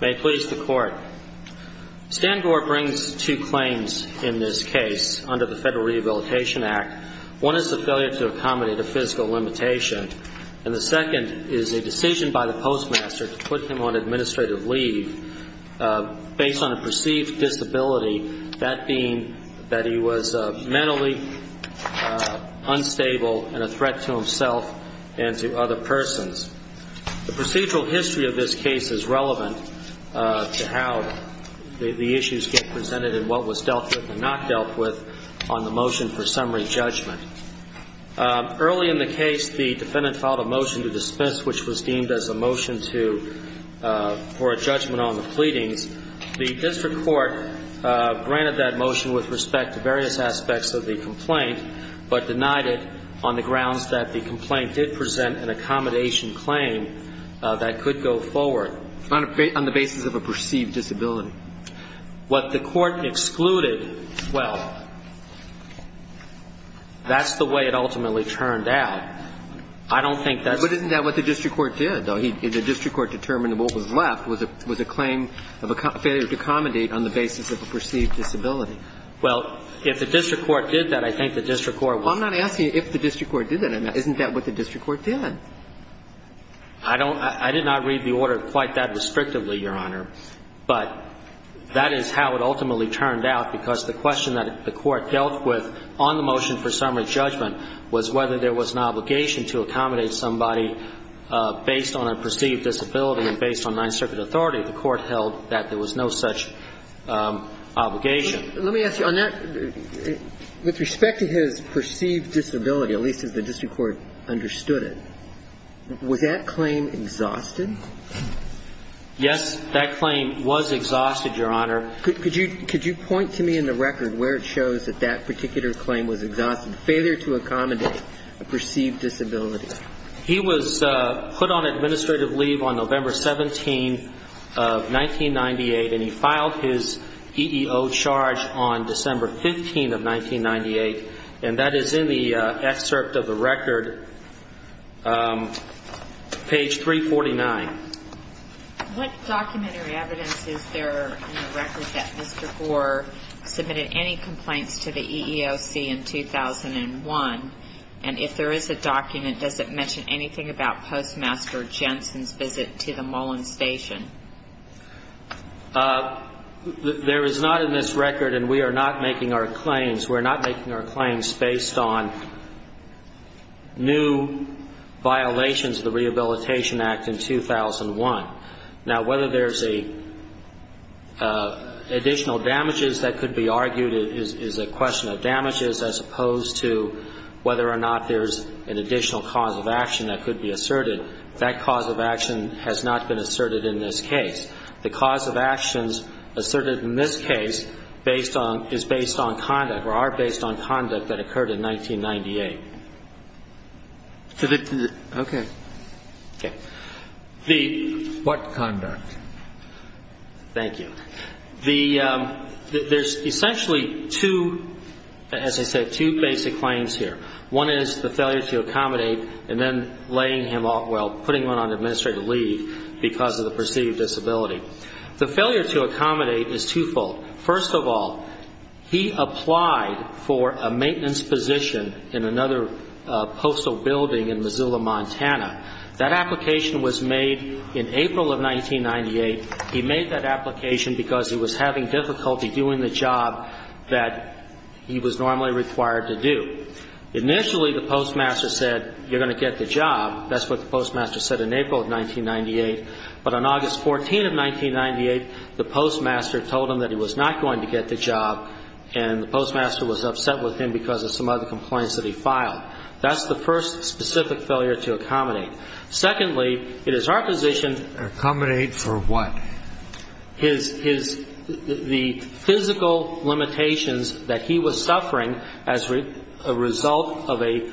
May it please the Court. Stan Gore brings two claims in this case under the Federal Rehabilitation Act. One is the failure to accommodate a physical limitation, and the second is a decision by the postmaster to put him on administrative leave based on a perceived disability, that being that he was mentally unstable and a threat to himself and to other persons. The procedural history of this case is relevant to how the issues get presented and what was dealt with and not dealt with on the motion for summary judgment. Early in the case, the defendant filed a motion to dispense, which was deemed as a motion to – for a judgment on the pleadings. The district court granted that motion with respect to various aspects of the complaint, but denied it on the grounds that the complaint did present an accommodation claim that could go forward. On the basis of a perceived disability. What the court excluded, well, that's the way it ultimately turned out. I don't think that's – But isn't that what the district court did, though? The district court determined what was left was a claim of a failure to accommodate on the basis of a perceived disability. Well, if the district court did that, I think the district court would – Well, I'm not asking if the district court did that. Isn't that what the district court did? I don't – I did not read the order quite that restrictively, Your Honor. But that is how it ultimately turned out, because the question that the court dealt with on the motion for summary judgment was whether there was an obligation to accommodate somebody based on a perceived disability and based on Ninth Circuit authority. The court held that there was no such obligation. Let me ask you, on that – with respect to his perceived disability, at least as the district court understood it, was that claim exhausted? Yes, that claim was exhausted, Your Honor. Could you point to me in the record where it shows that that particular claim was exhausted, failure to accommodate a perceived disability? He was put on administrative leave on November 17th of 1998, and he filed his EEO charge on December 15th of 1998. And that is in the excerpt of the record, page 349. What documentary evidence is there in the record that Mr. Gore submitted any complaints to the EEOC in 2001? And if there is a document, does it mention anything about Postmaster Jensen's visit to the Mullen Station? There is not in this record, and we are not making our claims – we're not making our claims based on new violations of the Rehabilitation Act in 2001. Now, whether there's a – additional damages that could be argued is a question of damages as opposed to whether or not there's an additional cause of action that could be asserted. That cause of action has not been asserted in this case. The cause of actions asserted in this case based on – is based on conduct or are based on conduct that occurred in 1998. Okay. What conduct? Thank you. The – there's essentially two, as I said, two basic claims here. One is the failure to accommodate and then laying him – well, putting him on administrative leave because of the perceived disability. The failure to accommodate is twofold. First of all, he applied for a maintenance position in another postal building in Missoula, Montana. That application was made in April of 1998. He made that application because he was having difficulty doing the job that he was normally required to do. Initially, the postmaster said, you're going to get the job. That's what the postmaster said in April of 1998. But on August 14th of 1998, the postmaster told him that he was not going to get the job, and the postmaster was upset with him because of some other complaints that he filed. That's the first specific failure to accommodate. Secondly, it is our position – Accommodate for what? His – his – the physical limitations that he was suffering as a result of a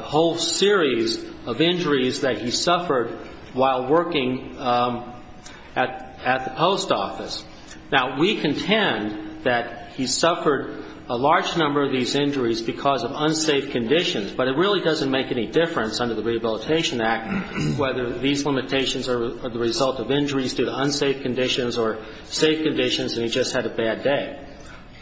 whole series of injuries that he suffered while working at – at the post office. Now, we contend that he suffered a large number of these injuries because of unsafe conditions, but it really doesn't make any difference under the Rehabilitation Act whether these limitations are the result of injuries due to unsafe conditions or safe conditions and he just had a bad day.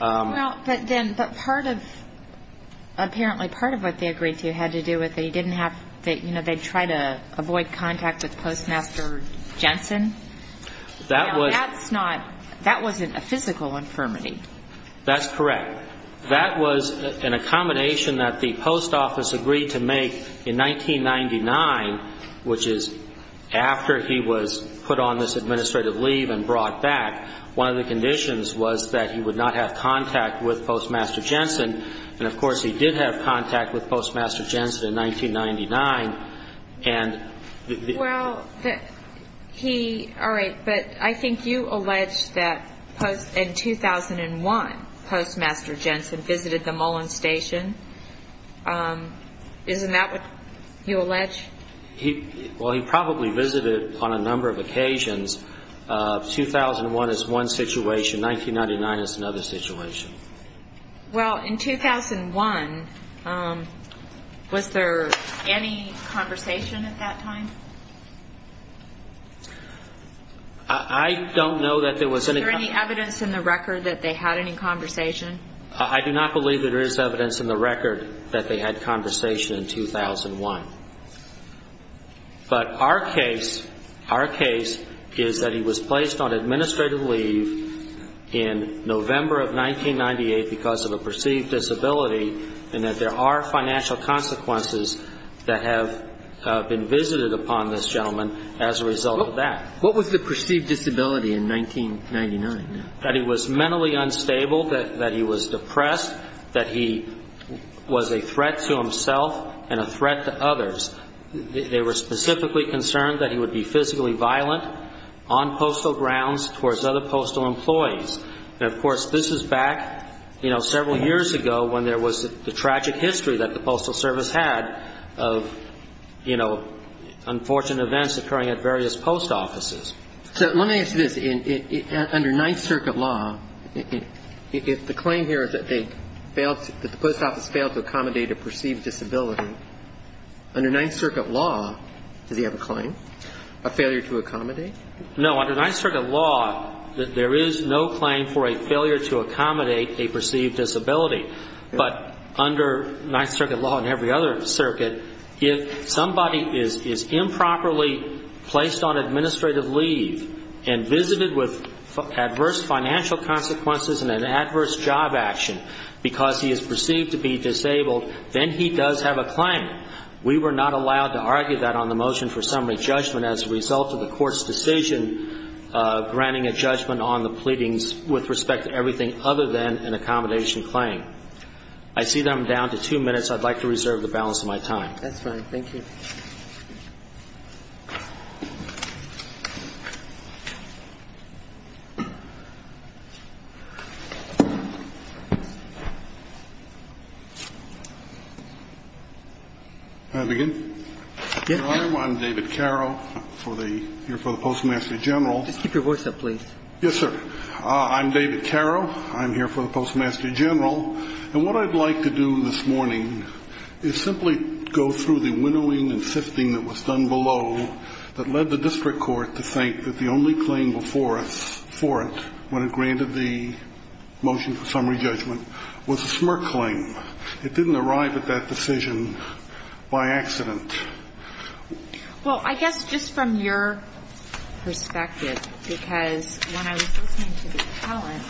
Well, but then – but part of – apparently part of what they agreed to had to do with they didn't have – you know, they'd try to avoid contact with Postmaster Jensen. That was – Now, that's not – that wasn't a physical infirmity. That's correct. That was an accommodation that the post office agreed to make in 1999, which is after he was put on this administrative leave and brought back. One of the conditions was that he would not have contact with Postmaster Jensen, and, of course, he did have contact with Postmaster Jensen in 1999, and the – Well, he – all right, but I think you allege that in 2001 Postmaster Jensen visited the Mullen Station. Isn't that what you allege? He – well, he probably visited on a number of occasions. 2001 is one situation. 1999 is another situation. Well, in 2001, was there any conversation at that time? I don't know that there was any – Is there any evidence in the record that they had any conversation? I do not believe that there is evidence in the record that they had conversation in 2001. But our case, our case is that he was placed on administrative leave in November of 1998 because of a perceived disability and that there are financial consequences that have been visited upon this gentleman as a result of that. What was the perceived disability in 1999? That he was mentally unstable, that he was depressed, that he was a threat to himself and a threat to others. They were specifically concerned that he would be physically violent on postal grounds towards other postal employees. And, of course, this is back, you know, several years ago when there was the tragic history that the Postal Service had of, you know, unfortunate events occurring at various post offices. So let me ask you this. Under Ninth Circuit law, if the claim here is that they failed, that the post office failed to accommodate a perceived disability, under Ninth Circuit law, does he have a claim, a failure to accommodate? No. Under Ninth Circuit law, there is no claim for a failure to accommodate a perceived disability. But under Ninth Circuit law and every other circuit, if somebody is improperly placed on administrative leave and visited with adverse financial consequences and an adverse job action because he is perceived to be disabled, then he does have a claim. We were not allowed to argue that on the motion for summary judgment as a result of the Court's decision granting a judgment on the pleadings with respect to everything other than an accommodation claim. I see that I'm down to two minutes. I'd like to reserve the balance of my time. That's fine. Thank you. May I begin? Yes. Your Honor, I'm David Carrow. I'm here for the Postmaster General. Just keep your voice up, please. Yes, sir. I'm David Carrow. I'm here for the Postmaster General. And what I'd like to do this morning is simply go through the winnowing and sifting that was done below that led the district court to think that the only claim before us for it when it granted the motion for summary judgment was a smirk claim. It didn't arrive at that decision by accident. Well, I guess just from your perspective, because when I was listening to the talent,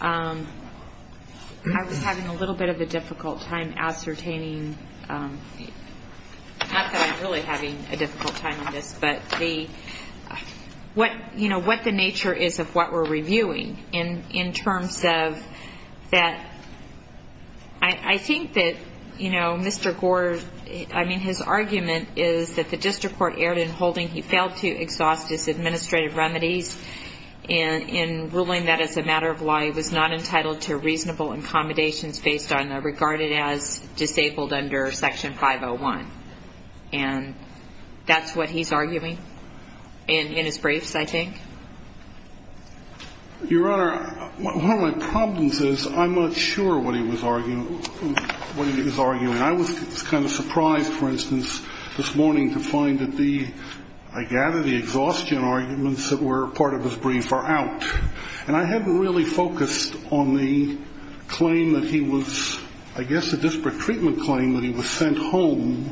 I was having a little bit of a difficult time ascertaining not that I'm really having a difficult time in this, but what the nature is of what we're reviewing in terms of I think that, you know, Mr. Gore, I mean, his argument is that the district court erred in holding he failed to exhaust his administrative remedies in ruling that as a matter of law he was not entitled to reasonable accommodations based on the regarded as disabled under Section 501. And that's what he's arguing in his briefs, I think. Your Honor, one of my problems is I'm not sure what he was arguing, what he was arguing. I was kind of surprised, for instance, this morning to find that the I gather the exhaustion arguments that were part of his brief are out. And I hadn't really focused on the claim that he was I guess a disparate treatment claim that he was sent home.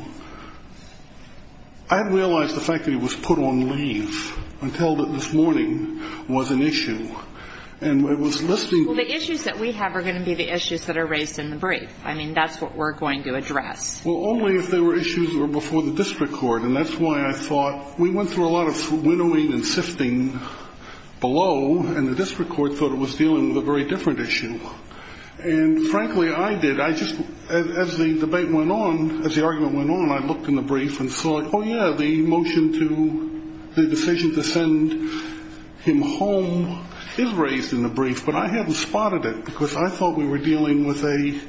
I hadn't realized the fact that he was put on leave until this morning was an issue. And it was listing the issues that we have are going to be the issues that are raised in the brief. I mean, that's what we're going to address. Well, only if they were issues that were before the district court. And that's why I thought we went through a lot of winnowing and sifting below. And the district court thought it was dealing with a very different issue. And frankly, I did. As the debate went on, as the argument went on, I looked in the brief and saw, oh, yeah, the motion to the decision to send him home is raised in the brief. But I hadn't spotted it because I thought we were dealing with an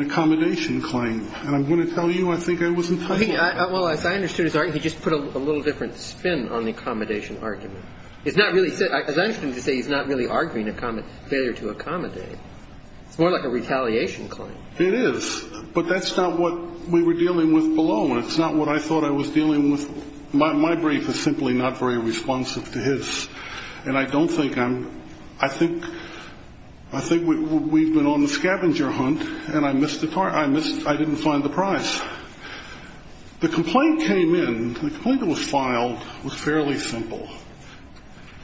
accommodation claim. And I'm going to tell you I think I was entitled to that. Well, as I understood his argument, he just put a little different spin on the accommodation argument. As I understand it, he's not really arguing a failure to accommodate. It's more like a retaliation claim. It is. But that's not what we were dealing with below, and it's not what I thought I was dealing with. My brief is simply not very responsive to his. And I don't think I'm ‑‑ I think we've been on the scavenger hunt, and I missed the part. I didn't find the prize. The complaint came in, the complaint that was filed was fairly simple.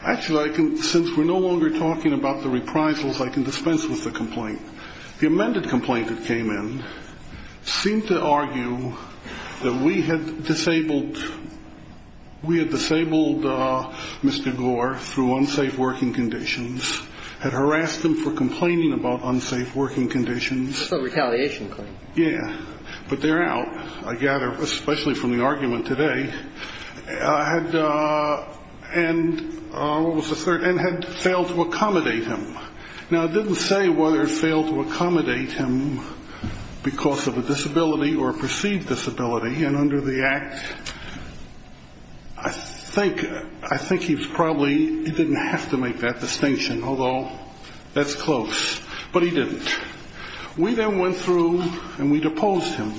Actually, since we're no longer talking about the reprisals, I can dispense with the complaint. The amended complaint that came in seemed to argue that we had disabled Mr. Gore through unsafe working conditions, had harassed him for complaining about unsafe working conditions. It's a retaliation claim. Yeah. But there out, I gather, especially from the argument today, had failed to accommodate him. Now, it didn't say whether it failed to accommodate him because of a disability or a perceived disability. And under the act, I think he probably didn't have to make that distinction, although that's close. But he didn't. We then went through and we deposed him.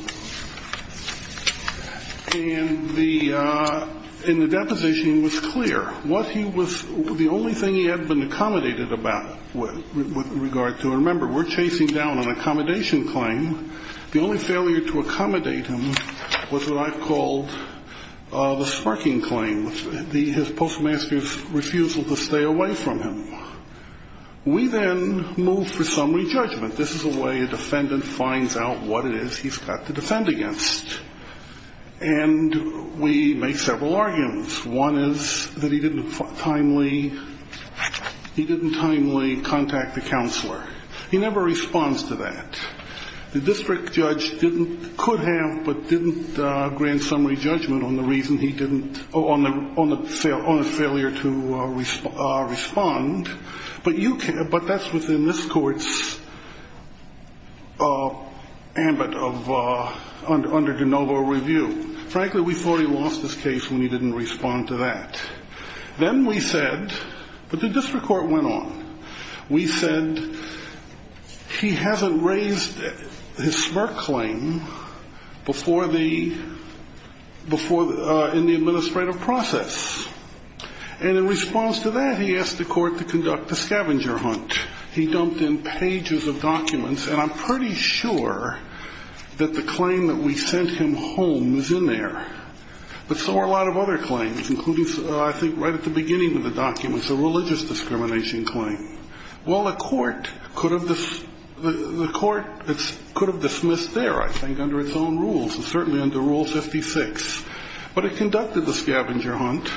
And the deposition was clear. What he was ‑‑ the only thing he had been accommodated about with regard to, and remember, we're chasing down an accommodation claim, the only failure to accommodate him was what I've called the sparking claim, his postmaster's refusal to stay away from him. We then moved for summary judgment. This is the way a defendant finds out what it is he's got to defend against. And we made several arguments. One is that he didn't timely contact the counselor. He never responds to that. The district judge didn't ‑‑ could have but didn't grant summary judgment on the reason he didn't, on the failure to respond. But that's within this court's ambit of ‑‑ under de novo review. Frankly, we thought he lost his case when he didn't respond to that. Then we said ‑‑ but the district court went on. We said he hasn't raised his spark claim before the ‑‑ in the administrative process. And in response to that, he asked the court to conduct a scavenger hunt. He dumped in pages of documents, and I'm pretty sure that the claim that we sent him home is in there. But so are a lot of other claims, including, I think, right at the beginning of the documents, a religious discrimination claim. Well, the court could have ‑‑ the court could have dismissed there, I think, under its own rules. It's certainly under Rule 56. But it conducted the scavenger hunt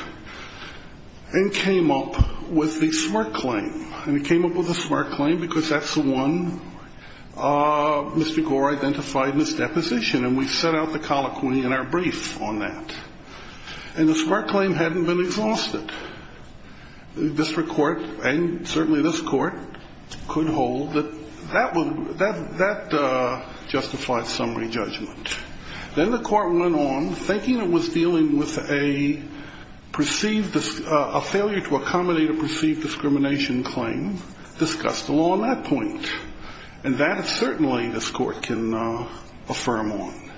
and came up with the spark claim. And it came up with the spark claim because that's the one Mr. Gore identified in his deposition. And we set out the colloquy in our brief on that. And the spark claim hadn't been exhausted. The district court, and certainly this court, could hold that that justifies summary judgment. Then the court went on, thinking it was dealing with a perceived ‑‑ a failure to accommodate a perceived discrimination claim, discussed the law on that point. And that certainly this court can affirm on.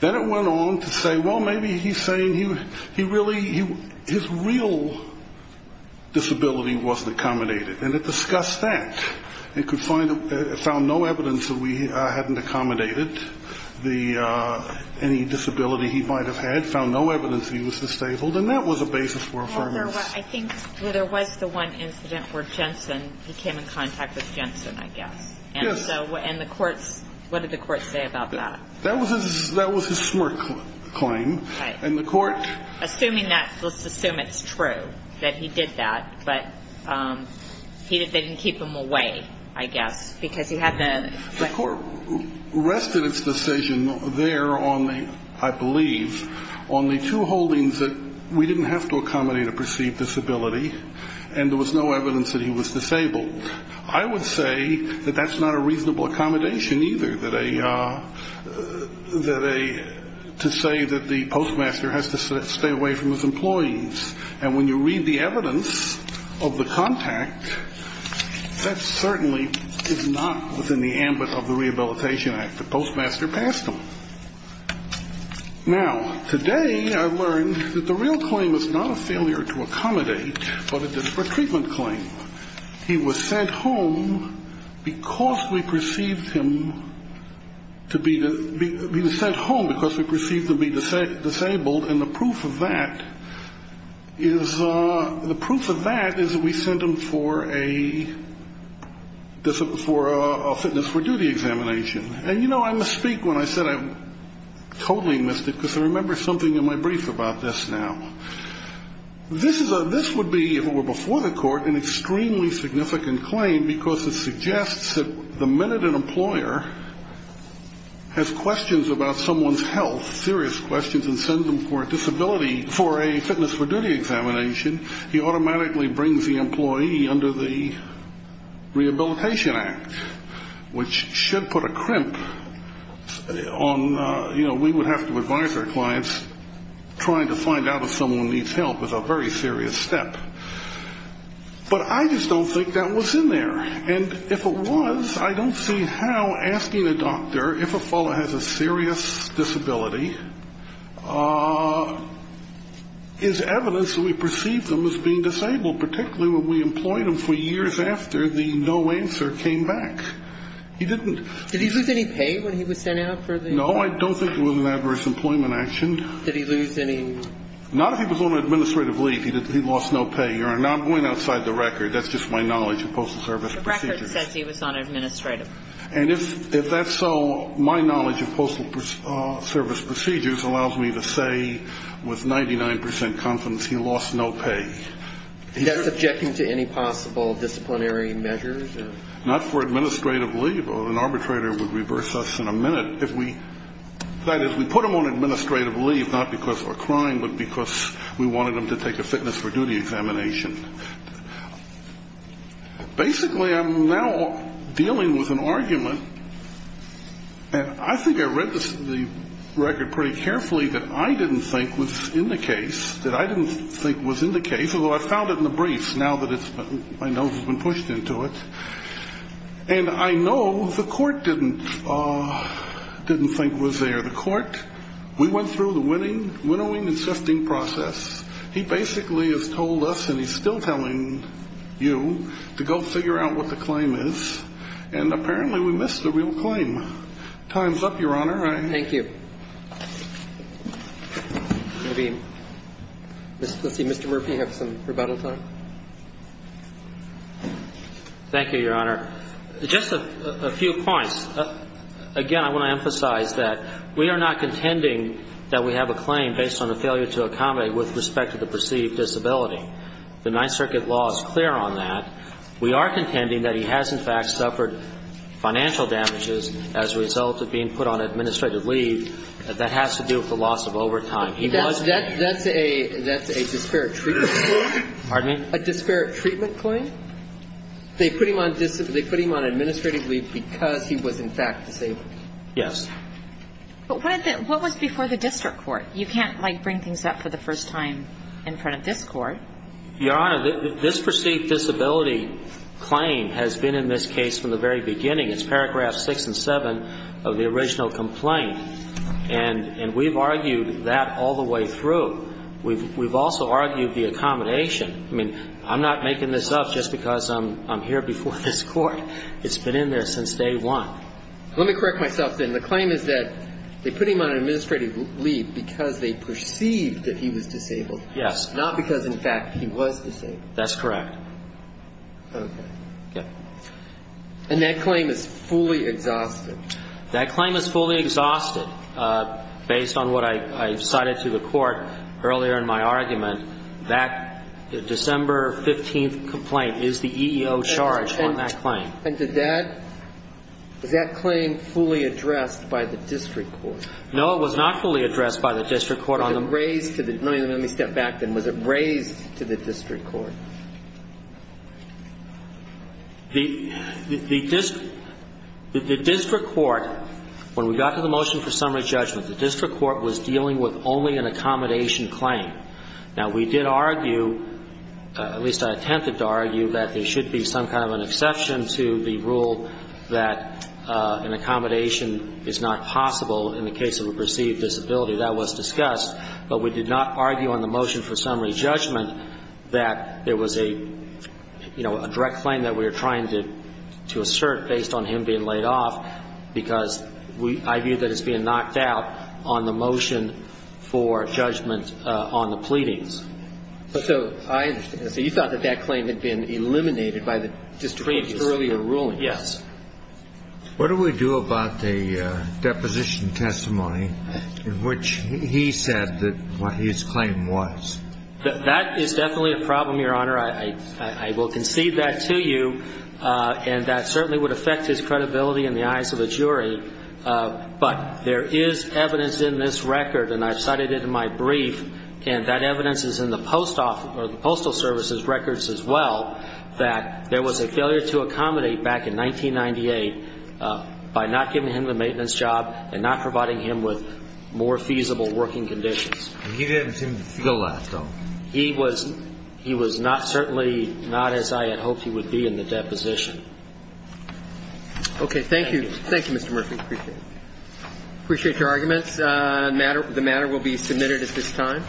Then it went on to say, well, maybe he's saying he really ‑‑ his real disability wasn't accommodated. And it discussed that. It found no evidence that we hadn't accommodated any disability he might have had, found no evidence he was disabled. And that was a basis for affirmation. I think there was the one incident where Jensen, he came in contact with Jensen, I guess. Yes. And the courts, what did the courts say about that? That was his smirk claim. Right. And the court ‑‑ Assuming that, let's assume it's true that he did that. But he didn't keep him away, I guess, because he had the ‑‑ The court rested its decision there on the, I believe, on the two holdings that we didn't have to accommodate a perceived disability and there was no evidence that he was disabled. I would say that that's not a reasonable accommodation either, that a ‑‑ to say that the postmaster has to stay away from his employees. And when you read the evidence of the contact, that certainly is not within the ambit of the Rehabilitation Act. The postmaster passed them. Now, today I've learned that the real claim is not a failure to accommodate, but a disparate treatment claim. He was sent home because we perceived him to be ‑‑ He was sent home because we perceived him to be disabled and the proof of that is we sent him for a fitness for duty examination. And, you know, I must speak when I said I totally missed it because I remember something in my brief about this now. This would be, if it were before the court, an extremely significant claim because it suggests that the minute an employer has questions about someone's health, serious questions, and sends them for a disability for a fitness for duty examination, he automatically brings the employee under the Rehabilitation Act, which should put a crimp on, you know, we would have to advise our clients trying to find out if someone needs help is a very serious step. But I just don't think that was in there. And if it was, I don't see how asking a doctor if a fellow has a serious disability is evidence that we perceived him as being disabled, particularly when we employed him for years after the no answer came back. He didn't ‑‑ No, I don't think it was an adverse employment action. Did he lose any? Not if he was on administrative leave. He lost no pay. Now, I'm going outside the record. That's just my knowledge of postal service procedures. The record says he was on administrative. And if that's so, my knowledge of postal service procedures allows me to say with 99 percent confidence he lost no pay. That's objecting to any possible disciplinary measures? Not for administrative leave. An arbitrator would reverse us in a minute if we ‑‑ that is, we put him on administrative leave not because of a crime but because we wanted him to take a fitness for duty examination. Basically, I'm now dealing with an argument, and I think I read the record pretty carefully that I didn't think was in the case, that I didn't think was in the case, although I found it in the briefs now that my nose has been pushed into it. And I know the court didn't think was there. The court, we went through the winnowing and sifting process. He basically has told us, and he's still telling you, to go figure out what the claim is, and apparently we missed the real claim. Time's up, Your Honor. Thank you. Let's see, Mr. Murphy, you have some rebuttal time? Thank you, Your Honor. Just a few points. Again, I want to emphasize that we are not contending that we have a claim based on a failure to accommodate with respect to the perceived disability. The Ninth Circuit law is clear on that. We are contending that he has, in fact, suffered financial damages as a result of being put on administrative leave. That has to do with the loss of overtime. That's a disparate treatment. Pardon me? A disparate treatment claim. They put him on administrative leave because he was, in fact, disabled. Yes. But what was before the district court? You can't, like, bring things up for the first time in front of this court. Your Honor, this perceived disability claim has been in this case from the very beginning. It's paragraphs 6 and 7 of the original complaint. And we've argued that all the way through. We've also argued the accommodation. I mean, I'm not making this up just because I'm here before this court. It's been in there since day one. Let me correct myself then. The claim is that they put him on administrative leave because they perceived that he was disabled. Yes. Not because, in fact, he was disabled. That's correct. Okay. Okay. And that claim is fully exhausted. That claim is fully exhausted based on what I cited to the court earlier in my argument. That December 15th complaint is the EEO charge on that claim. And did that ‑‑ was that claim fully addressed by the district court? No, it was not fully addressed by the district court. Was it raised to the ‑‑ let me step back then. Was it raised to the district court? The district court, when we got to the motion for summary judgment, the district court was dealing with only an accommodation claim. Now, we did argue, at least I attempted to argue, that there should be some kind of an exception to the rule that an accommodation is not possible in the case of a perceived disability. That was discussed. But we did not argue on the motion for summary judgment that there was a, you know, a direct claim that we were trying to assert based on him being laid off because we ‑‑ I view that as being knocked out on the motion for judgment on the pleadings. But so I ‑‑ so you thought that that claim had been eliminated by the district court's earlier ruling? Yes. What do we do about the deposition testimony in which he said that what his claim was? That is definitely a problem, Your Honor. I will concede that to you. And that certainly would affect his credibility in the eyes of a jury. But there is evidence in this record, and I've cited it in my brief, and that evidence is in the postal service's records as well, that there was a failure to accommodate back in 1998 by not giving him the maintenance job and not providing him with more feasible working conditions. And he didn't seem to feel that, though. He was not certainly not as I had hoped he would be in the deposition. Okay. Thank you. Thank you, Mr. Murphy. Appreciate it. Appreciate your arguments. The matter will be submitted at this time. Thank you.